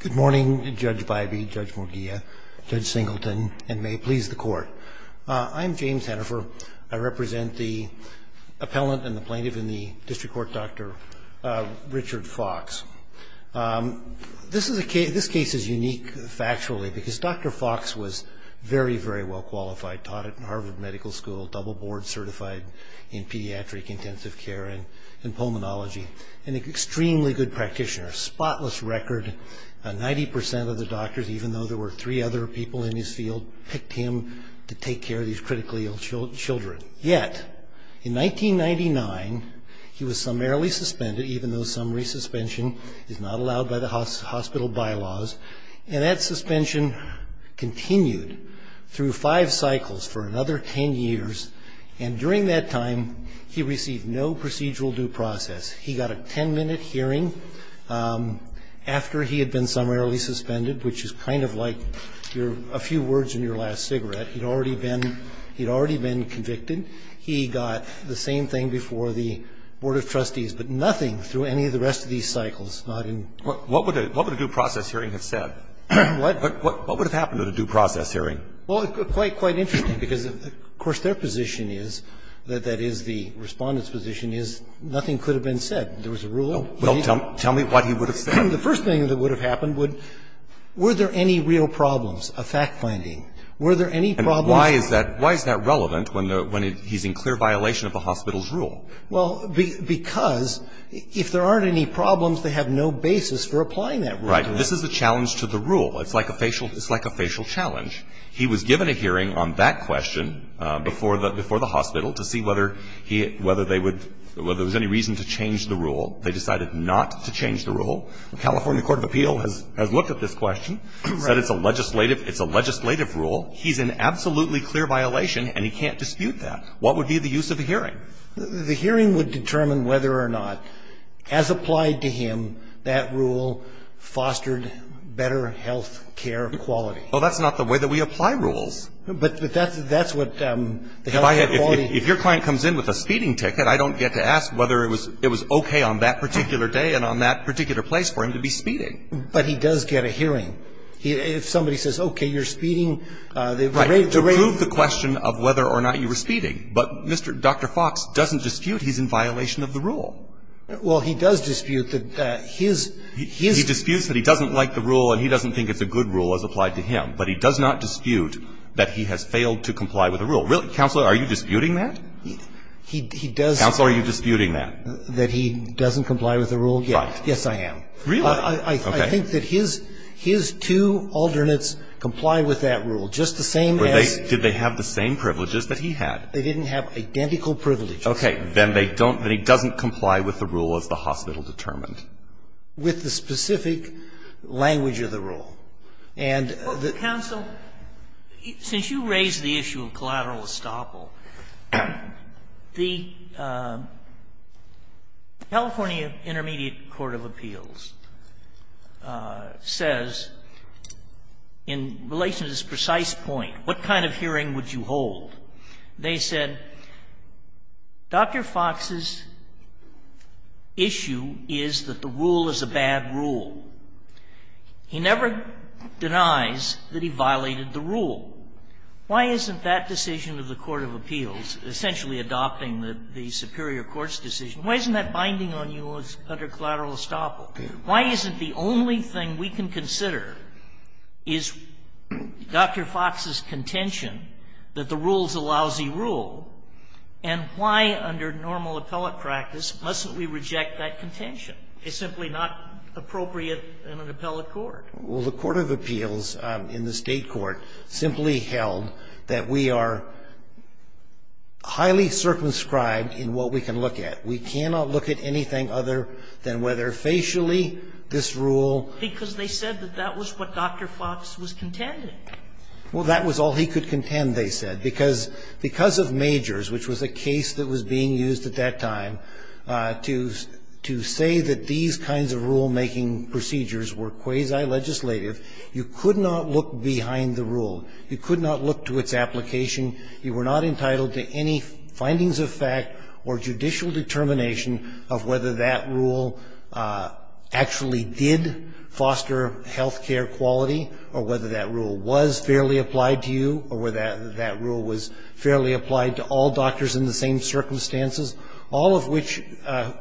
Good morning, Judge Bybee, Judge Morghia, Judge Singleton, and may it please the court. I'm James Hennifer. I represent the appellant and the plaintiff in the district court, Dr. Richard Fox This is a case, this case is unique factually because Dr. Fox was very very well qualified, taught at Harvard Medical School, double board certified in 90% of the doctors, even though there were three other people in his field, picked him to take care of these critically ill children. Yet, in 1999, he was summarily suspended, even though summary suspension is not allowed by the hospital bylaws, and that suspension continued through five cycles for another ten years, and during that time he received no procedural due process. He got a 10-minute hearing after he had been summarily suspended, which is kind of like a few words in your last cigarette. He'd already been convicted. He got the same thing before the Board of Trustees, but nothing through any of the rest of these cycles. What would a due process hearing have said? What would have happened at a due process hearing? Well, it's quite interesting because, of course, their position is, that is the Respondent's position, is nothing could have been said. There was a rule. Well, tell me what he would have said. The first thing that would have happened would, were there any real problems of fact-finding? Were there any problems? Why is that relevant when he's in clear violation of the hospital's rule? Well, because if there aren't any problems, they have no basis for applying that rule to them. Right. This is a challenge to the rule. It's like a facial challenge. He was given a hearing on that question before the hospital to see whether they would, whether there was any reason to change the rule. They decided not to change the rule. The California Court of Appeal has looked at this question, said it's a legislative rule. He's in absolutely clear violation, and he can't dispute that. What would be the use of a hearing? The hearing would determine whether or not, as applied to him, that rule fostered better health care quality. Well, that's not the way that we apply rules. But that's what the health care quality. If I had, if your client comes in with a speeding ticket, I don't get to ask whether it was okay on that particular day and on that particular place for him to be speeding. But he does get a hearing. If somebody says, okay, you're speeding. To prove the question of whether or not you were speeding. But Mr. Dr. Fox doesn't dispute he's in violation of the rule. Well, he does dispute that his, his. He disputes that he doesn't like the rule and he doesn't think it's a good rule as applied to him. But he does not dispute that he has failed to comply with the rule. Counsel, are you disputing that? He does. Counsel, are you disputing that? That he doesn't comply with the rule yet. Right. Yes, I am. Really? I think that his, his two alternates comply with that rule, just the same as. Did they have the same privileges that he had? They didn't have identical privileges. Okay. Then they don't, then he doesn't comply with the rule as the hospital determined. With the specific language of the rule. And the. Counsel, since you raised the issue of collateral estoppel, the California Intermediate Court of Appeals says in relation to this precise point, what kind of hearing would you hold? They said, Dr. Fox's issue is that the rule is a bad rule. He never denies that he violated the rule. Why isn't that decision of the court of appeals, essentially adopting the superior court's decision, why isn't that binding on you under collateral estoppel? Why isn't the only thing we can consider is Dr. Fox's contention that the rule is a lousy rule, and why under normal appellate practice mustn't we reject that contention? It's simply not appropriate in an appellate court. Well, the court of appeals in the State court simply held that we are highly circumscribed in what we can look at. We cannot look at anything other than whether facially this rule. Because they said that that was what Dr. Fox was contending. Well, that was all he could contend, they said, because of Majors, which was a case that was being used at that time, to say that these kinds of rule-making procedures were quasi-legislative. You could not look behind the rule. You could not look to its application. You were not entitled to any findings of fact or judicial determination of whether that rule actually did foster health care quality, or whether that rule was fairly applied to all doctors in the same circumstances, all of which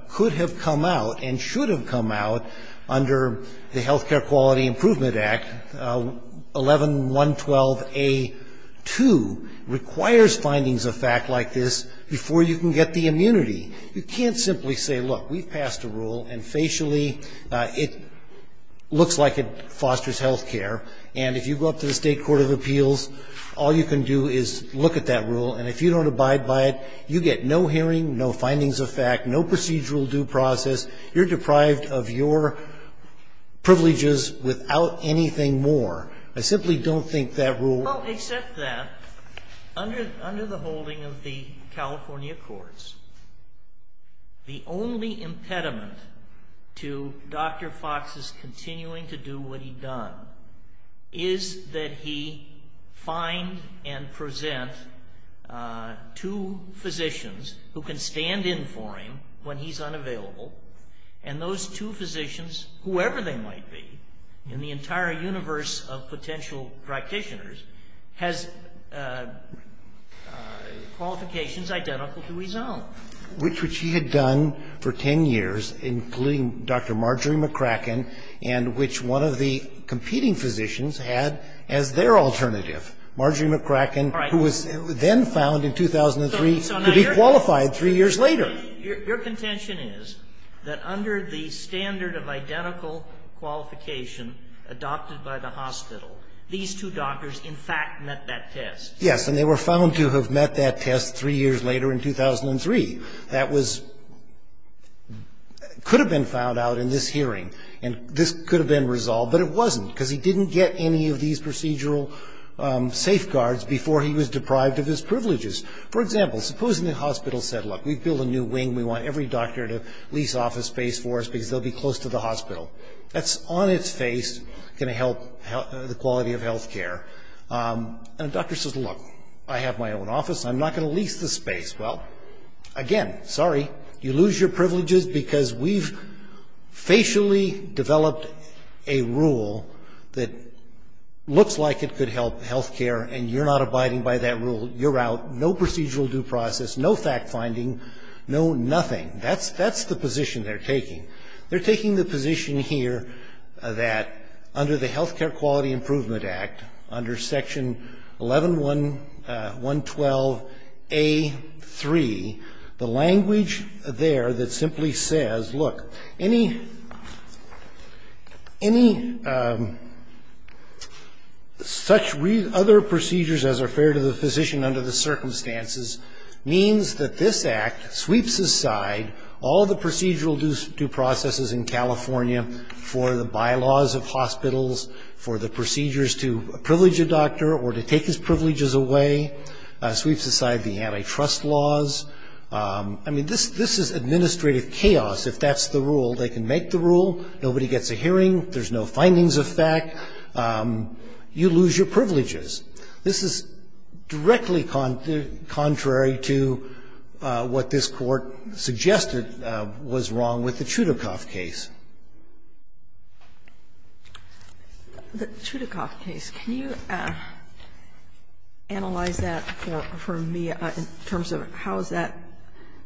could have come out and should have come out under the Health Care Quality Improvement Act, 11.112a.2, requires findings of fact like this before you can get the immunity. You can't simply say, look, we've passed a rule, and facially it looks like it fosters health care, and if you go up to the State court of appeals, all you can do is look at that rule, and if you don't abide by it, you get no hearing, no findings of fact, no procedural due process. You're deprived of your privileges without anything more. I simply don't think that rule ---- Well, except that, under the holding of the California courts, the only impediment to Dr. Fox's continuing to do what he'd done is that he find and present two physicians who can stand in for him when he's unavailable, and those two physicians, whoever they might be, in the entire universe of potential practitioners, has qualifications identical to his own. Which he had done for 10 years, including Dr. Marjorie McCracken, and which one of the competing physicians had as their alternative, Marjorie McCracken, who was then found in 2003 to be qualified three years later. Your contention is that under the standard of identical qualification adopted by the hospital, these two doctors in fact met that test. Yes, and they were found to have met that test three years later in 2003. That was ---- could have been found out in this hearing, and this could have been resolved, but it wasn't, because he didn't get any of these procedural safeguards before he was deprived of his privileges. For example, supposing the hospital said, look, we've built a new wing, we want every doctor to lease office space for us because they'll be close to the hospital. That's on its face going to help the quality of health care. And the doctor says, look, I have my own office, I'm not going to lease the space. Well, again, sorry, you lose your privileges because we've facially developed a rule that looks like it could help health care, and you're not abiding by that rule. You're out. No procedural due process, no fact finding, no nothing. That's the position they're taking. They're taking the position here that under the Health Care Quality Improvement Act, under Section 11112A.3, the language there that simply says, look, any such other procedures as are fair to the physician under the circumstances means that this Act sweeps aside all the procedural due processes in California for the bylaws of hospitals, for the procedures to privilege a doctor or to take his privileges away. Sweeps aside the antitrust laws. I mean, this is administrative chaos if that's the rule. They can make the rule. Nobody gets a hearing. You lose your privileges. This is directly contrary to what this Court suggested was wrong with the Chudikoff case. The Chudikoff case, can you analyze that for me in terms of how is that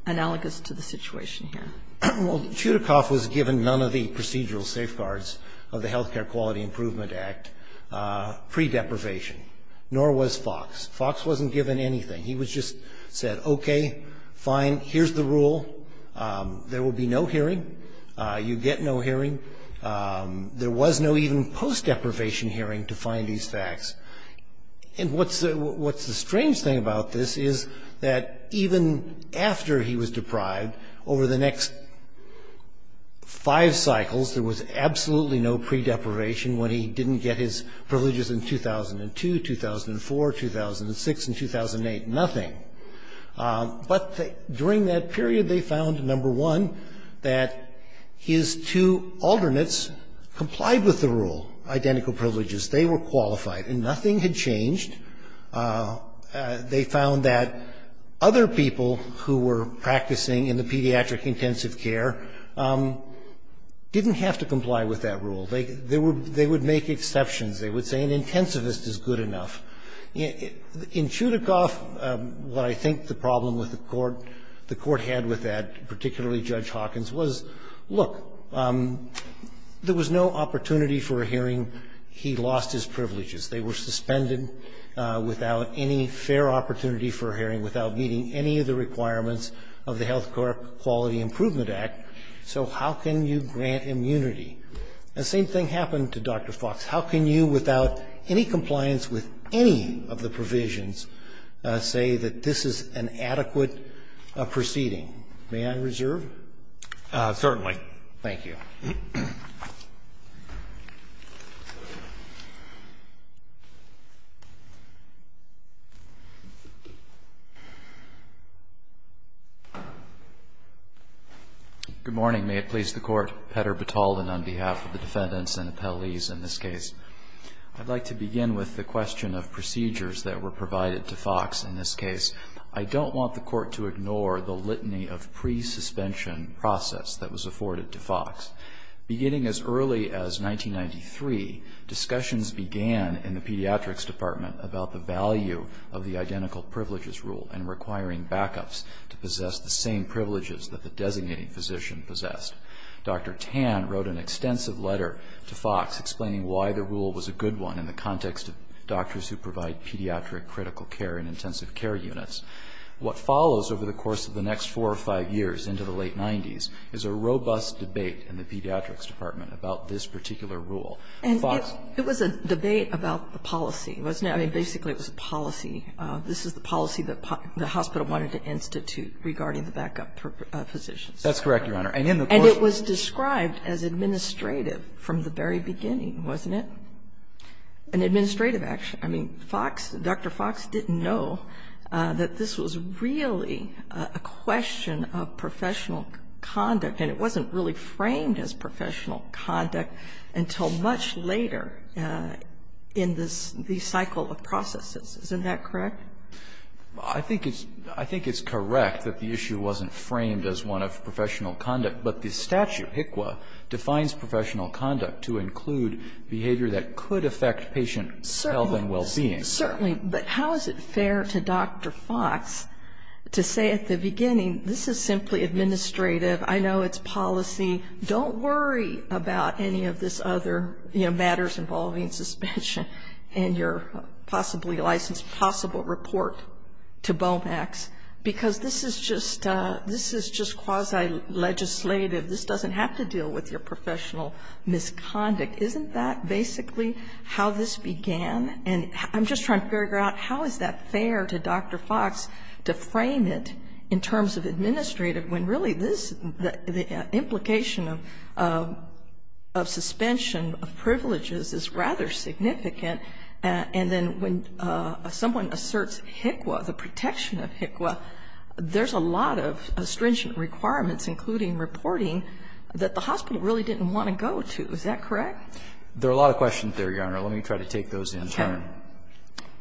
analogous to the situation here? Well, Chudikoff was given none of the procedural safeguards of the Health Care Quality Improvement Act pre-deprivation, nor was Fox. Fox wasn't given anything. He was just said, okay, fine, here's the rule. There will be no hearing. You get no hearing. There was no even post-deprivation hearing to find these facts. And what's the strange thing about this is that even after he was deprived, over the privileges in 2002, 2004, 2006, and 2008, nothing. But during that period, they found, number one, that his two alternates complied with the rule, identical privileges. They were qualified, and nothing had changed. They found that other people who were practicing in the pediatric intensive care didn't have to comply with that rule. They would make exceptions. They would say an intensivist is good enough. In Chudikoff, what I think the problem with the court had with that, particularly Judge Hawkins, was, look, there was no opportunity for a hearing. He lost his privileges. They were suspended without any fair opportunity for a hearing, without meeting any of the requirements of the Health Care Quality Improvement Act. So how can you grant immunity? The same thing happened to Dr. Fox. How can you, without any compliance with any of the provisions, say that this is an adequate proceeding? May I reserve? Certainly. Thank you. Good morning. May it please the Court. Petr Bataldin on behalf of the defendants and appellees in this case. I'd like to begin with the question of procedures that were provided to Fox in this case. I don't want the Court to ignore the litany of pre-suspension process that was afforded to Fox. Beginning as early as 1993, discussions began in the Pediatrics Department about the value of the identical privileges rule and requiring backups to possess the same privileges that the designating physician possessed. Dr. Tan wrote an extensive letter to Fox explaining why the rule was a good one in the context of doctors who provide pediatric critical care and intensive care units. What follows over the course of the next four or five years into the late 90s is a robust debate in the Pediatrics Department about this particular rule. Fox. And it was a debate about the policy, wasn't it? I mean, basically it was a policy. This is the policy that the hospital wanted to institute regarding the backup positions. That's correct, Your Honor. And in the course of the course of the course of the course of the course of the And it was described as administrative from the very beginning, wasn't it? An administrative action. I mean, Fox, Dr. Fox didn't know that this was really a question of professional conduct, and it wasn't really framed as professional conduct until much later in the cycle of processes. Isn't that correct? I think it's correct that the issue wasn't framed as one of professional conduct, but the statute, HCQA, defines professional conduct to include behavior that could affect patient health and well-being. Certainly. But how is it fair to Dr. Fox to say at the beginning this is simply administrative I know it's policy. Don't worry about any of this other, you know, matters involving suspension and your possibly licensed possible report to BOMAX, because this is just this is just quasi-legislative. This doesn't have to deal with your professional misconduct. Isn't that basically how this began? And I'm just trying to figure out how is that fair to Dr. Fox to frame it in terms of administrative when really this, the implication of suspension of privileges is rather significant, and then when someone asserts HCQA, the protection of HCQA, there's a lot of stringent requirements, including reporting, that the hospital really didn't want to go to. Is that correct? There are a lot of questions there, Your Honor. Let me try to take those in turn. Okay.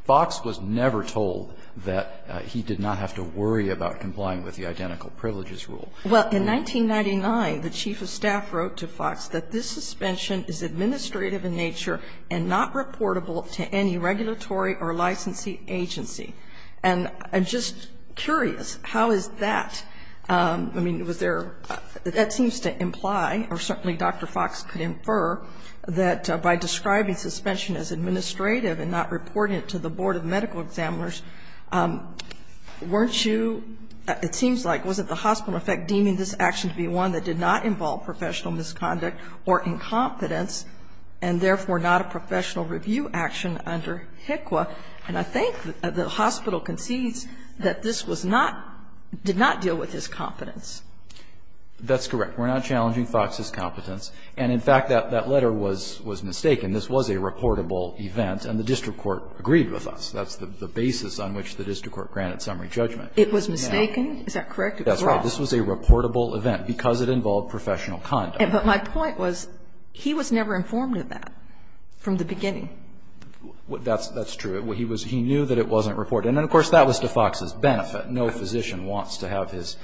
Fox was never told that he did not have to worry about complying with the identical privileges rule. Well, in 1999, the chief of staff wrote to Fox that this suspension is administrative in nature and not reportable to any regulatory or licensing agency. And I'm just curious, how is that? I mean, was there that seems to imply, or certainly Dr. Fox could infer, that by describing suspension as administrative and not reporting it to the board of medical examiners, weren't you, it seems like, wasn't the hospital, in effect, deeming this action to be one that did not involve professional misconduct or incompetence and therefore not a professional review action under HCQA? And I think the hospital concedes that this was not, did not deal with his competence. That's correct. We're not challenging Fox's competence. And in fact, that letter was mistaken. This was a reportable event, and the district court agreed with us. That's the basis on which the district court granted summary judgment. It was mistaken? Is that correct? It was wrong. That's right. This was a reportable event because it involved professional conduct. But my point was, he was never informed of that from the beginning. That's true. He was, he knew that it wasn't reported. And then, of course, that was to Fox's benefit. No physician wants to have his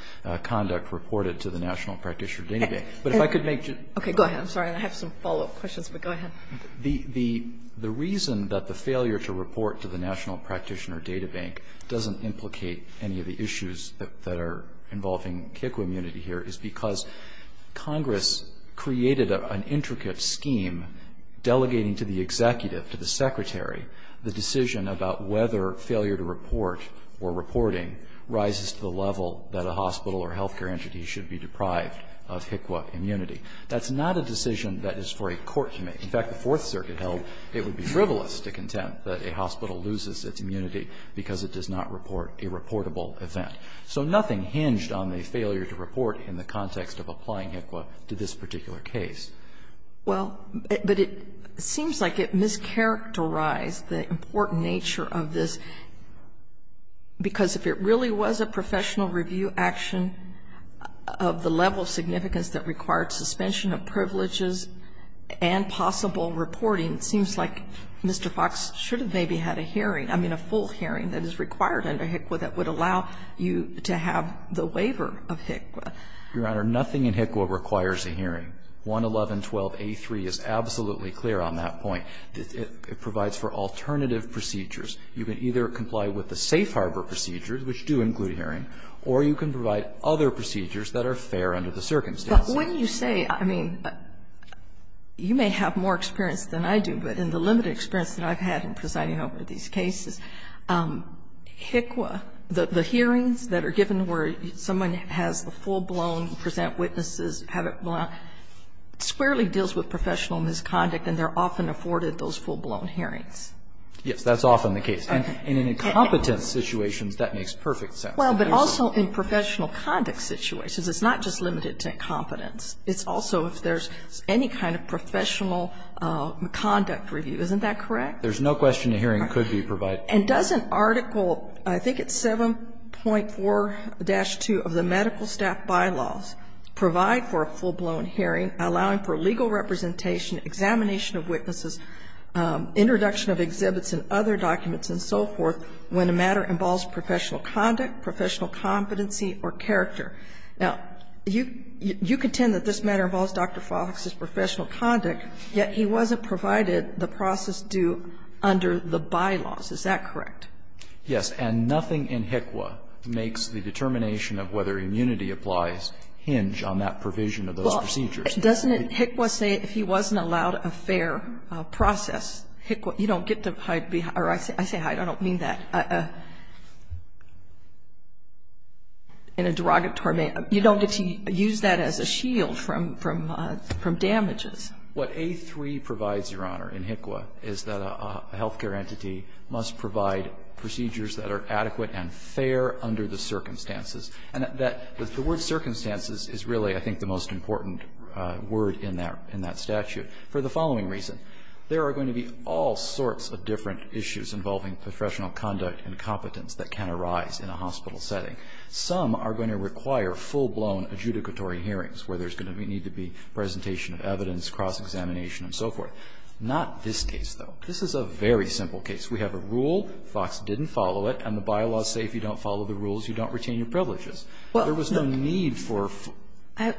conduct reported to the National Practitioner Daily. But if I could make just a point. Go ahead. I have some follow-up questions, but go ahead. The reason that the failure to report to the National Practitioner Data Bank doesn't implicate any of the issues that are involving HCQA immunity here is because Congress created an intricate scheme delegating to the executive, to the Secretary, the decision about whether failure to report or reporting rises to the level that a hospital or health care entity should be deprived of HCQA immunity. That's not a decision that is for a court to make. In fact, the Fourth Circuit held it would be frivolous to contend that a hospital loses its immunity because it does not report a reportable event. So nothing hinged on the failure to report in the context of applying HCQA to this particular case. Well, but it seems like it mischaracterized the important nature of this, because that required suspension of privileges and possible reporting. It seems like Mr. Fox should have maybe had a hearing, I mean, a full hearing that is required under HCQA that would allow you to have the waiver of HCQA. Your Honor, nothing in HCQA requires a hearing. 111.12a.3 is absolutely clear on that point. It provides for alternative procedures. You can either comply with the safe harbor procedures, which do include a hearing, or you can provide other procedures that are fair under the circumstances. But when you say, I mean, you may have more experience than I do, but in the limited experience that I've had in presiding over these cases, HCQA, the hearings that are given where someone has the full-blown present witnesses, squarely deals with professional misconduct, and they're often afforded those full-blown hearings. Yes, that's often the case. And in incompetent situations, that makes perfect sense. Well, but also in professional conduct situations. It's not just limited to incompetence. It's also if there's any kind of professional conduct review. Isn't that correct? There's no question a hearing could be provided. And does an article, I think it's 7.4-2 of the Medical Staff Bylaws, provide for a full-blown hearing allowing for legal representation, examination involves professional conduct, professional competency, or character. Now, you contend that this matter involves Dr. Fox's professional conduct, yet he wasn't provided the process due under the bylaws. Is that correct? Yes. And nothing in HCQA makes the determination of whether immunity applies hinge on that provision of those procedures. Well, doesn't HCQA say if he wasn't allowed a fair process, you don't get to hide or I say hide, I don't mean that. In a derogatory manner, you don't get to use that as a shield from damages. What A3 provides, Your Honor, in HCQA is that a health care entity must provide procedures that are adequate and fair under the circumstances, and that the word circumstances is really, I think, the most important word in that statute for the following reason. There are going to be all sorts of different issues involving professional conduct and competence that can arise in a hospital setting. Some are going to require full-blown adjudicatory hearings where there's going to need to be presentation of evidence, cross-examination, and so forth. Not this case, though. This is a very simple case. We have a rule, Fox didn't follow it, and the bylaws say if you don't follow the rules, you don't retain your privileges. There was no need for a full-blown hearing. I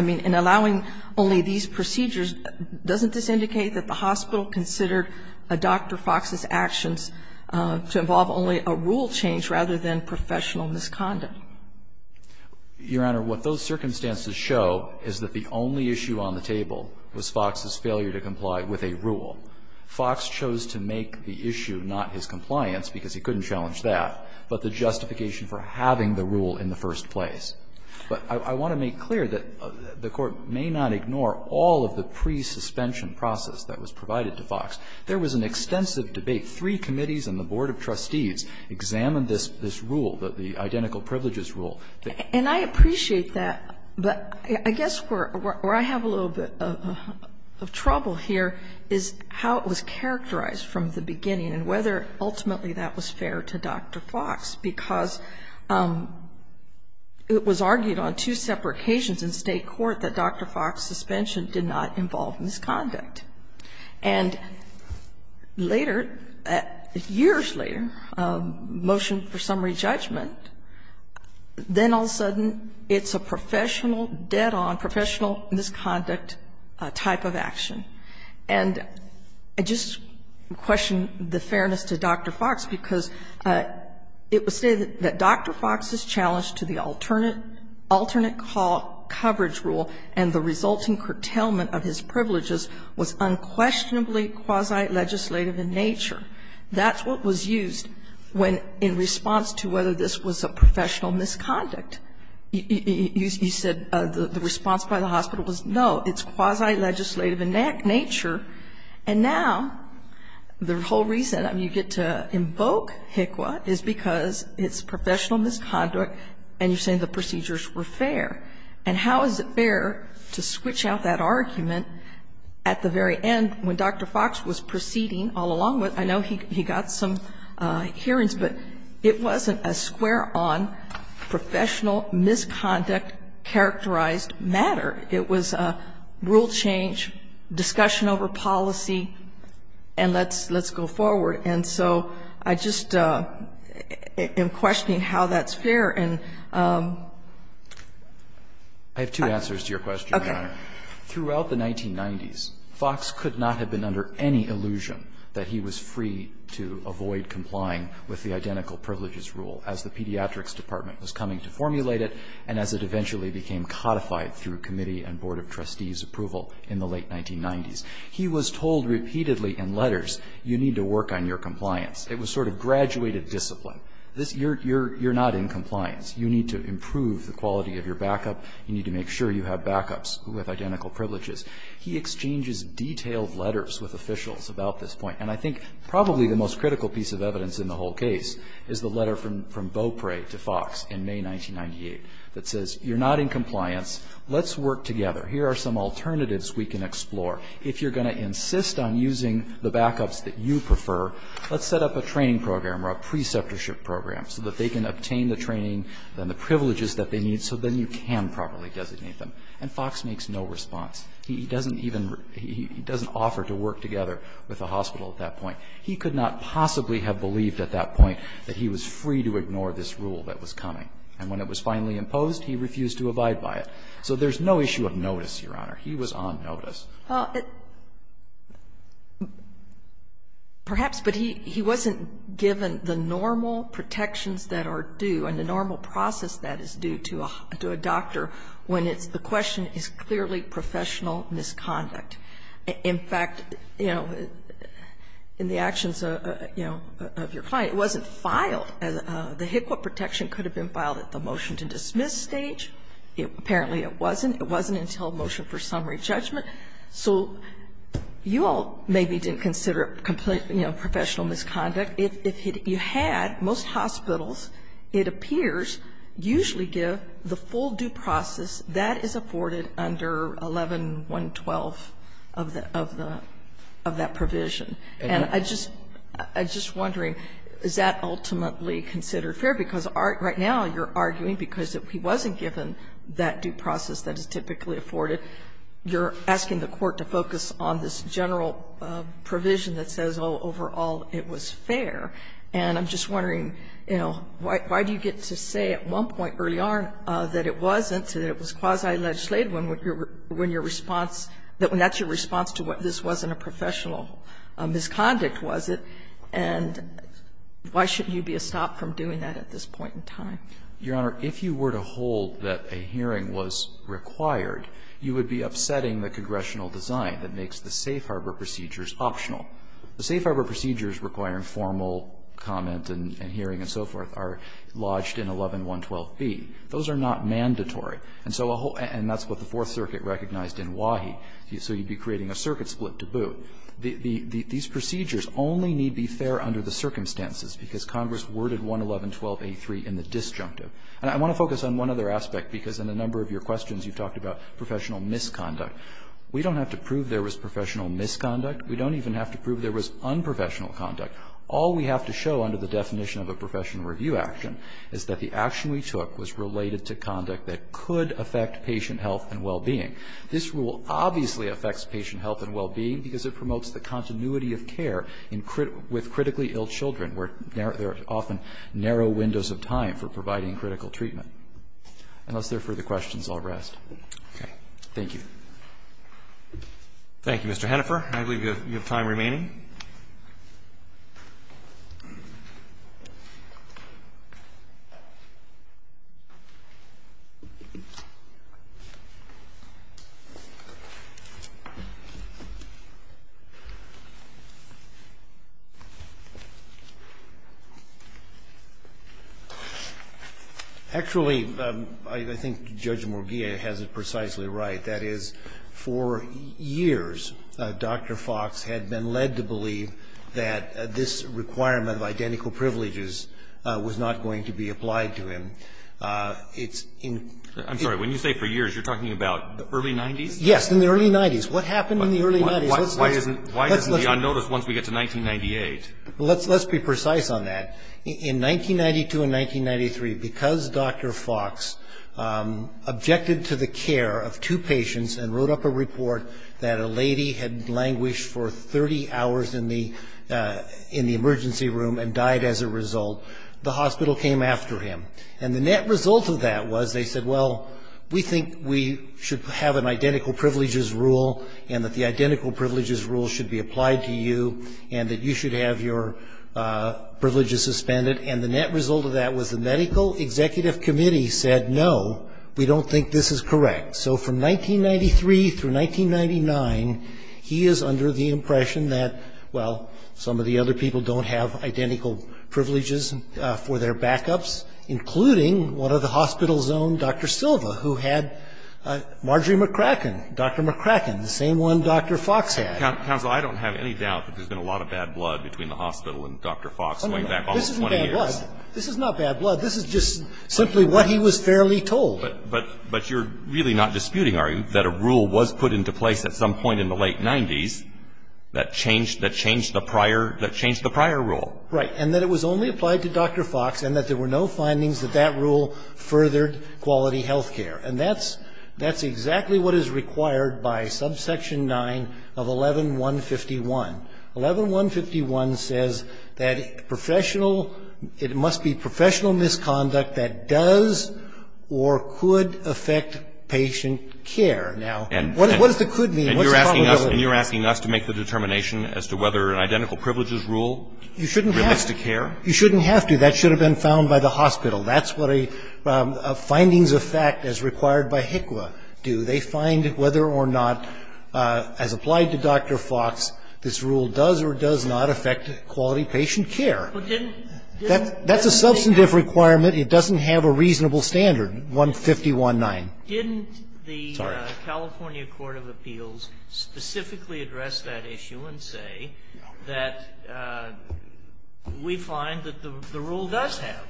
mean, in allowing only these procedures, doesn't this indicate that the hospital considered Dr. Fox's actions to involve only a rule change rather than professional misconduct? What the circumstances show is that the only issue on the table was Fox's failure to comply with a rule. Fox chose to make the issue not his compliance, because he couldn't challenge that, but the justification for having the rule in the first place. But I want to make clear that the Court may not ignore all of the pre-suspension process that was provided to Fox. There was an extensive debate. Three committees and the board of trustees examined this rule, the identical privileges rule. And I appreciate that, but I guess where I have a little bit of trouble here is how it was characterized from the beginning and whether ultimately that was fair to Dr. Fox, because it was argued on two separate occasions in State court that Dr. Fox's suspension did not involve misconduct. And later, years later, motion for summary judgment, then all of a sudden it's a professional dead-on, professional misconduct type of action. And I just question the fairness to Dr. Fox, because it was stated that Dr. Fox's challenge to the alternate coverage rule and the resulting curtailment of his privileges was unquestionably quasi-legislative in nature. That's what was used when, in response to whether this was a professional misconduct, you said the response by the hospital was no, it's quasi-legislative in nature. And now the whole reason you get to invoke HCQA is because it's professional misconduct and you're saying the procedures were fair. And how is it fair to switch out that argument at the very end when Dr. Fox was proceeding all along with, I know he got some hearings, but it wasn't a square-on professional misconduct characterized matter. It was a rule change, discussion over policy, and let's go forward. And so I just am questioning how that's fair. And I have two answers to your question, Your Honor. Throughout the 1990s, Fox could not have been under any illusion that he was free to avoid complying with the identical privileges rule as the Pediatrics Department was coming to formulate it and as it eventually became codified through committee and board of trustees approval in the late 1990s. He was told repeatedly in letters, you need to work on your compliance. It was sort of graduated discipline. You're not in compliance. You need to improve the quality of your backup. You need to make sure you have backups who have identical privileges. He exchanges detailed letters with officials about this point. And I think probably the most critical piece of evidence in the whole case is the letter from Beaupre to Fox in May 1998 that says you're not in compliance. Let's work together. Here are some alternatives we can explore. If you're going to insist on using the backups that you prefer, let's set up a training program or a preceptorship program so that they can obtain the training and the privileges that they need so then you can properly designate them. And Fox makes no response. He doesn't even – he doesn't offer to work together with the hospital at that point. He could not possibly have believed at that point that he was free to ignore this rule that was coming. And when it was finally imposed, he refused to abide by it. So there's no issue of notice, Your Honor. He was on notice. Perhaps, but he wasn't given the normal protections that are due and the normal process that is due to a doctor when the question is clearly professional misconduct. In fact, you know, in the actions, you know, of your client, it wasn't filed. The HCQA protection could have been filed at the motion-to-dismiss stage. Apparently, it wasn't. It wasn't until motion for summary judgment. So you all maybe didn't consider it, you know, professional misconduct. If you had, most hospitals, it appears, usually give the full due process that is afforded under 11-112 of the – of that provision. And I just – I'm just wondering, is that ultimately considered fair? Because right now you're arguing because if he wasn't given that due process that is typically afforded, you're asking the court to focus on this general provision that says, oh, overall, it was fair. And I'm just wondering, you know, why do you get to say at one point early on that it wasn't, that it was quasi-legislative when your response – that's your response to what this wasn't a professional misconduct, was it? And why shouldn't you be a stop from doing that at this point in time? Your Honor, if you were to hold that a hearing was required, you would be upsetting the congressional design that makes the safe harbor procedures optional. The safe harbor procedures requiring formal comment and hearing and so forth are lodged in 11-112B. Those are not mandatory. And so a whole – and that's what the Fourth Circuit recognized in Wahi. So you'd be creating a circuit split to boot. These procedures only need be fair under the circumstances, because Congress worded 11-112A3 in the disjunctive. And I want to focus on one other aspect, because in a number of your questions you've talked about professional misconduct. We don't have to prove there was professional misconduct. We don't even have to prove there was unprofessional conduct. All we have to show under the definition of a professional review action is that the action we took was related to conduct that could affect patient health and well-being. This rule obviously affects patient health and well-being, because it promotes the continuity of care with critically ill children, where there are often narrow windows of time for providing critical treatment. Unless there are further questions, I'll rest. Okay. Thank you. Roberts. Thank you, Mr. Hennifer. I believe you have time remaining. Actually, I think Judge Morgia has it precisely right. That is, for years, Dr. Fox had been led to believe that this requirement of identical privileges was not going to be applied to him. I'm sorry. When you say for years, you're talking about early 90s? Yes, in the early 90s. What happened in the early 90s? Why isn't he on notice once we get to 1998? Let's be precise on that. In 1992 and 1993, because Dr. Fox objected to the care of two patients and wrote up a report that a lady had languished for 30 hours in the emergency room and died as a result, the hospital came after him. And the net result of that was they said, well, we think we should have an identical privileges rule, and that the identical privileges rule should be suspended, and the net result of that was the medical executive committee said, no, we don't think this is correct. So from 1993 through 1999, he is under the impression that, well, some of the other people don't have identical privileges for their backups, including one of the hospital's own, Dr. Silva, who had Marjorie McCracken, Dr. McCracken, the same one Dr. Fox had. Counsel, I don't have any doubt that there's been a lot of bad blood between the hospital and Dr. Fox going back almost 20 years. This isn't bad blood. This is not bad blood. This is just simply what he was fairly told. But you're really not disputing, are you, that a rule was put into place at some point in the late 90s that changed the prior rule? Right. And that it was only applied to Dr. Fox and that there were no findings that that rule furthered quality health care. And that's exactly what is required by subsection 9 of 11-151. 11-151 says that professional, it must be professional misconduct that does or could affect patient care. Now, what does the could mean? What's the probability? And you're asking us to make the determination as to whether an identical privileges rule relates to care? You shouldn't have to. That should have been found by the hospital. That's what a findings of fact as required by HCQA do. They find whether or not, as applied to Dr. Fox, this rule does or does not affect quality patient care. That's a substantive requirement. It doesn't have a reasonable standard, 150.19. Sorry. Didn't the California Court of Appeals specifically address that issue and say that we find that the rule does have?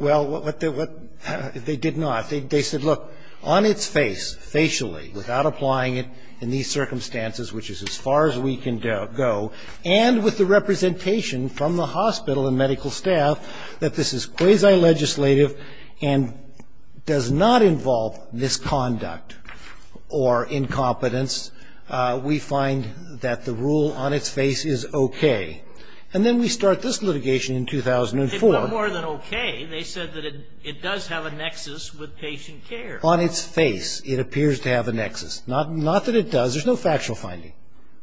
Well, what they did not. They said, look, on its face, facially, without applying it in these circumstances, which is as far as we can go, and with the representation from the hospital and medical staff that this is quasi-legislative and does not involve misconduct or incompetence, we find that the rule on its face is okay. And then we start this litigation in 2004. It was more than okay. They said that it does have a nexus with patient care. On its face, it appears to have a nexus. Not that it does. There's no factual finding.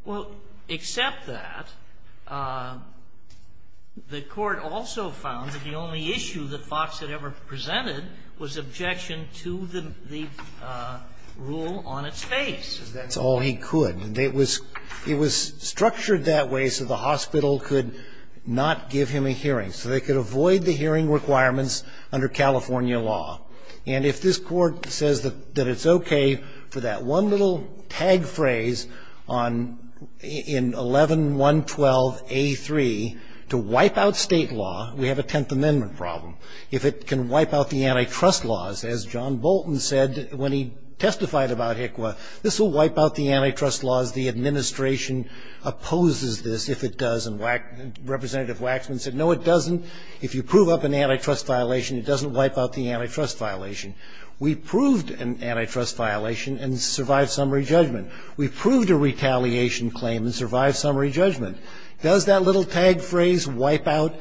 Well, except that, the Court also found that the only issue that Fox had ever presented was objection to the rule on its face. That's all he could. It was structured that way so the hospital could not give him a hearing, so they could avoid the hearing requirements under California law. And if this Court says that it's okay for that one little tag phrase in 11-112-A3 to wipe out state law, we have a Tenth Amendment problem. If it can wipe out the antitrust laws, as John Bolton said when he testified about HCWA, this will wipe out the antitrust laws. The administration opposes this if it does. And Representative Waxman said, no, it doesn't. If you prove up an antitrust violation, it doesn't wipe out the antitrust violation. We proved an antitrust violation and survived summary judgment. We proved a retaliation claim and survived summary judgment. Does that little tag phrase wipe out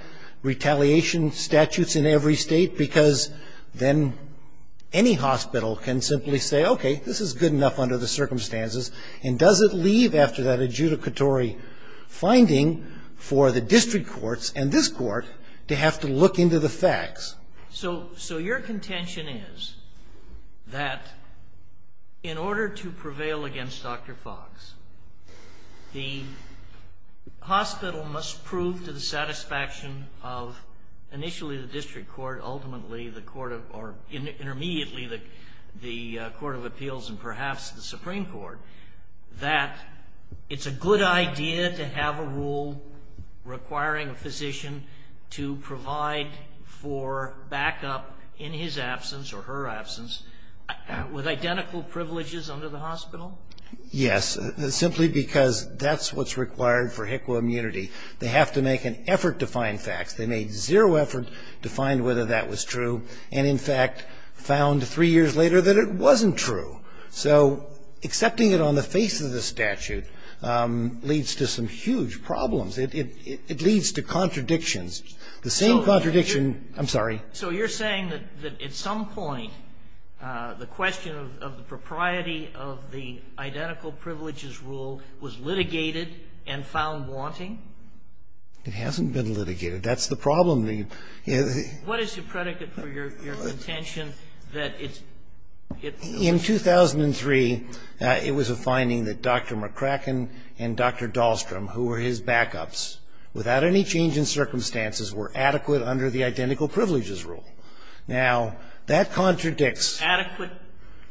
retaliation statutes in every state? Because then any hospital can simply say, okay, this is good enough under the circumstances. And does it leave after that adjudicatory finding for the district courts and this Court to have to look into the facts? So your contention is that in order to prevail against Dr. Fox, the hospital must prove to the satisfaction of initially the district court, ultimately the court of or intermediately the court of appeals and perhaps the Supreme Court, that it's a good idea to have a rule requiring a physician to provide for backup in his absence or her absence with identical privileges under the hospital? Yes, simply because that's what's required for HCWA immunity. They have to make an effort to find facts. They made zero effort to find whether that was true and, in fact, found three years later that it wasn't true. So accepting it on the face of the statute leads to some huge problems. It leads to contradictions. The same contradiction, I'm sorry. So you're saying that at some point the question of the propriety of the identical privileges rule was litigated and found wanting? It hasn't been litigated. That's the problem. What is the predicate for your contention that it's not? In 2003, it was a finding that Dr. McCracken and Dr. Dahlstrom, who were his backups, without any change in circumstances, were adequate under the identical privileges rule. Now, that contradicts. Adequate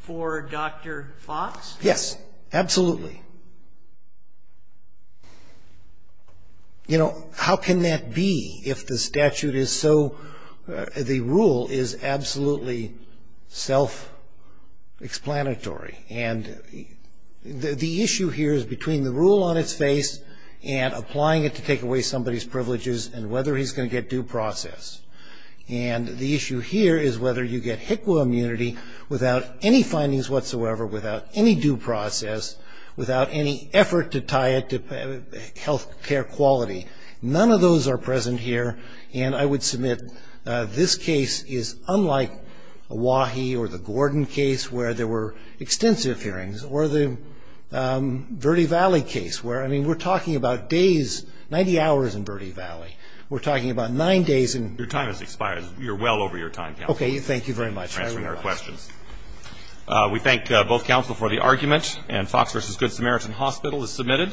for Dr. Fox? Yes, absolutely. You know, how can that be if the statute is so, the rule is absolutely self-explanatory? And the issue here is between the rule on its face and applying it to take away somebody's privileges and whether he's going to get due process. And the issue here is whether you get HCWA immunity without any findings whatsoever, without any due process, without any effort to tie it to health care quality. None of those are present here. And I would submit this case is unlike a Wahi or the Gordon case where there were extensive hearings or the Verde Valley case where, I mean, we're talking about days, 90 hours in Verde Valley. We're talking about nine days in. Your time has expired. You're well over your time, counsel. Okay, thank you very much. Thank you for answering our questions. We thank both counsel for the argument. And Fox versus Good Samaritan Hospital is submitted.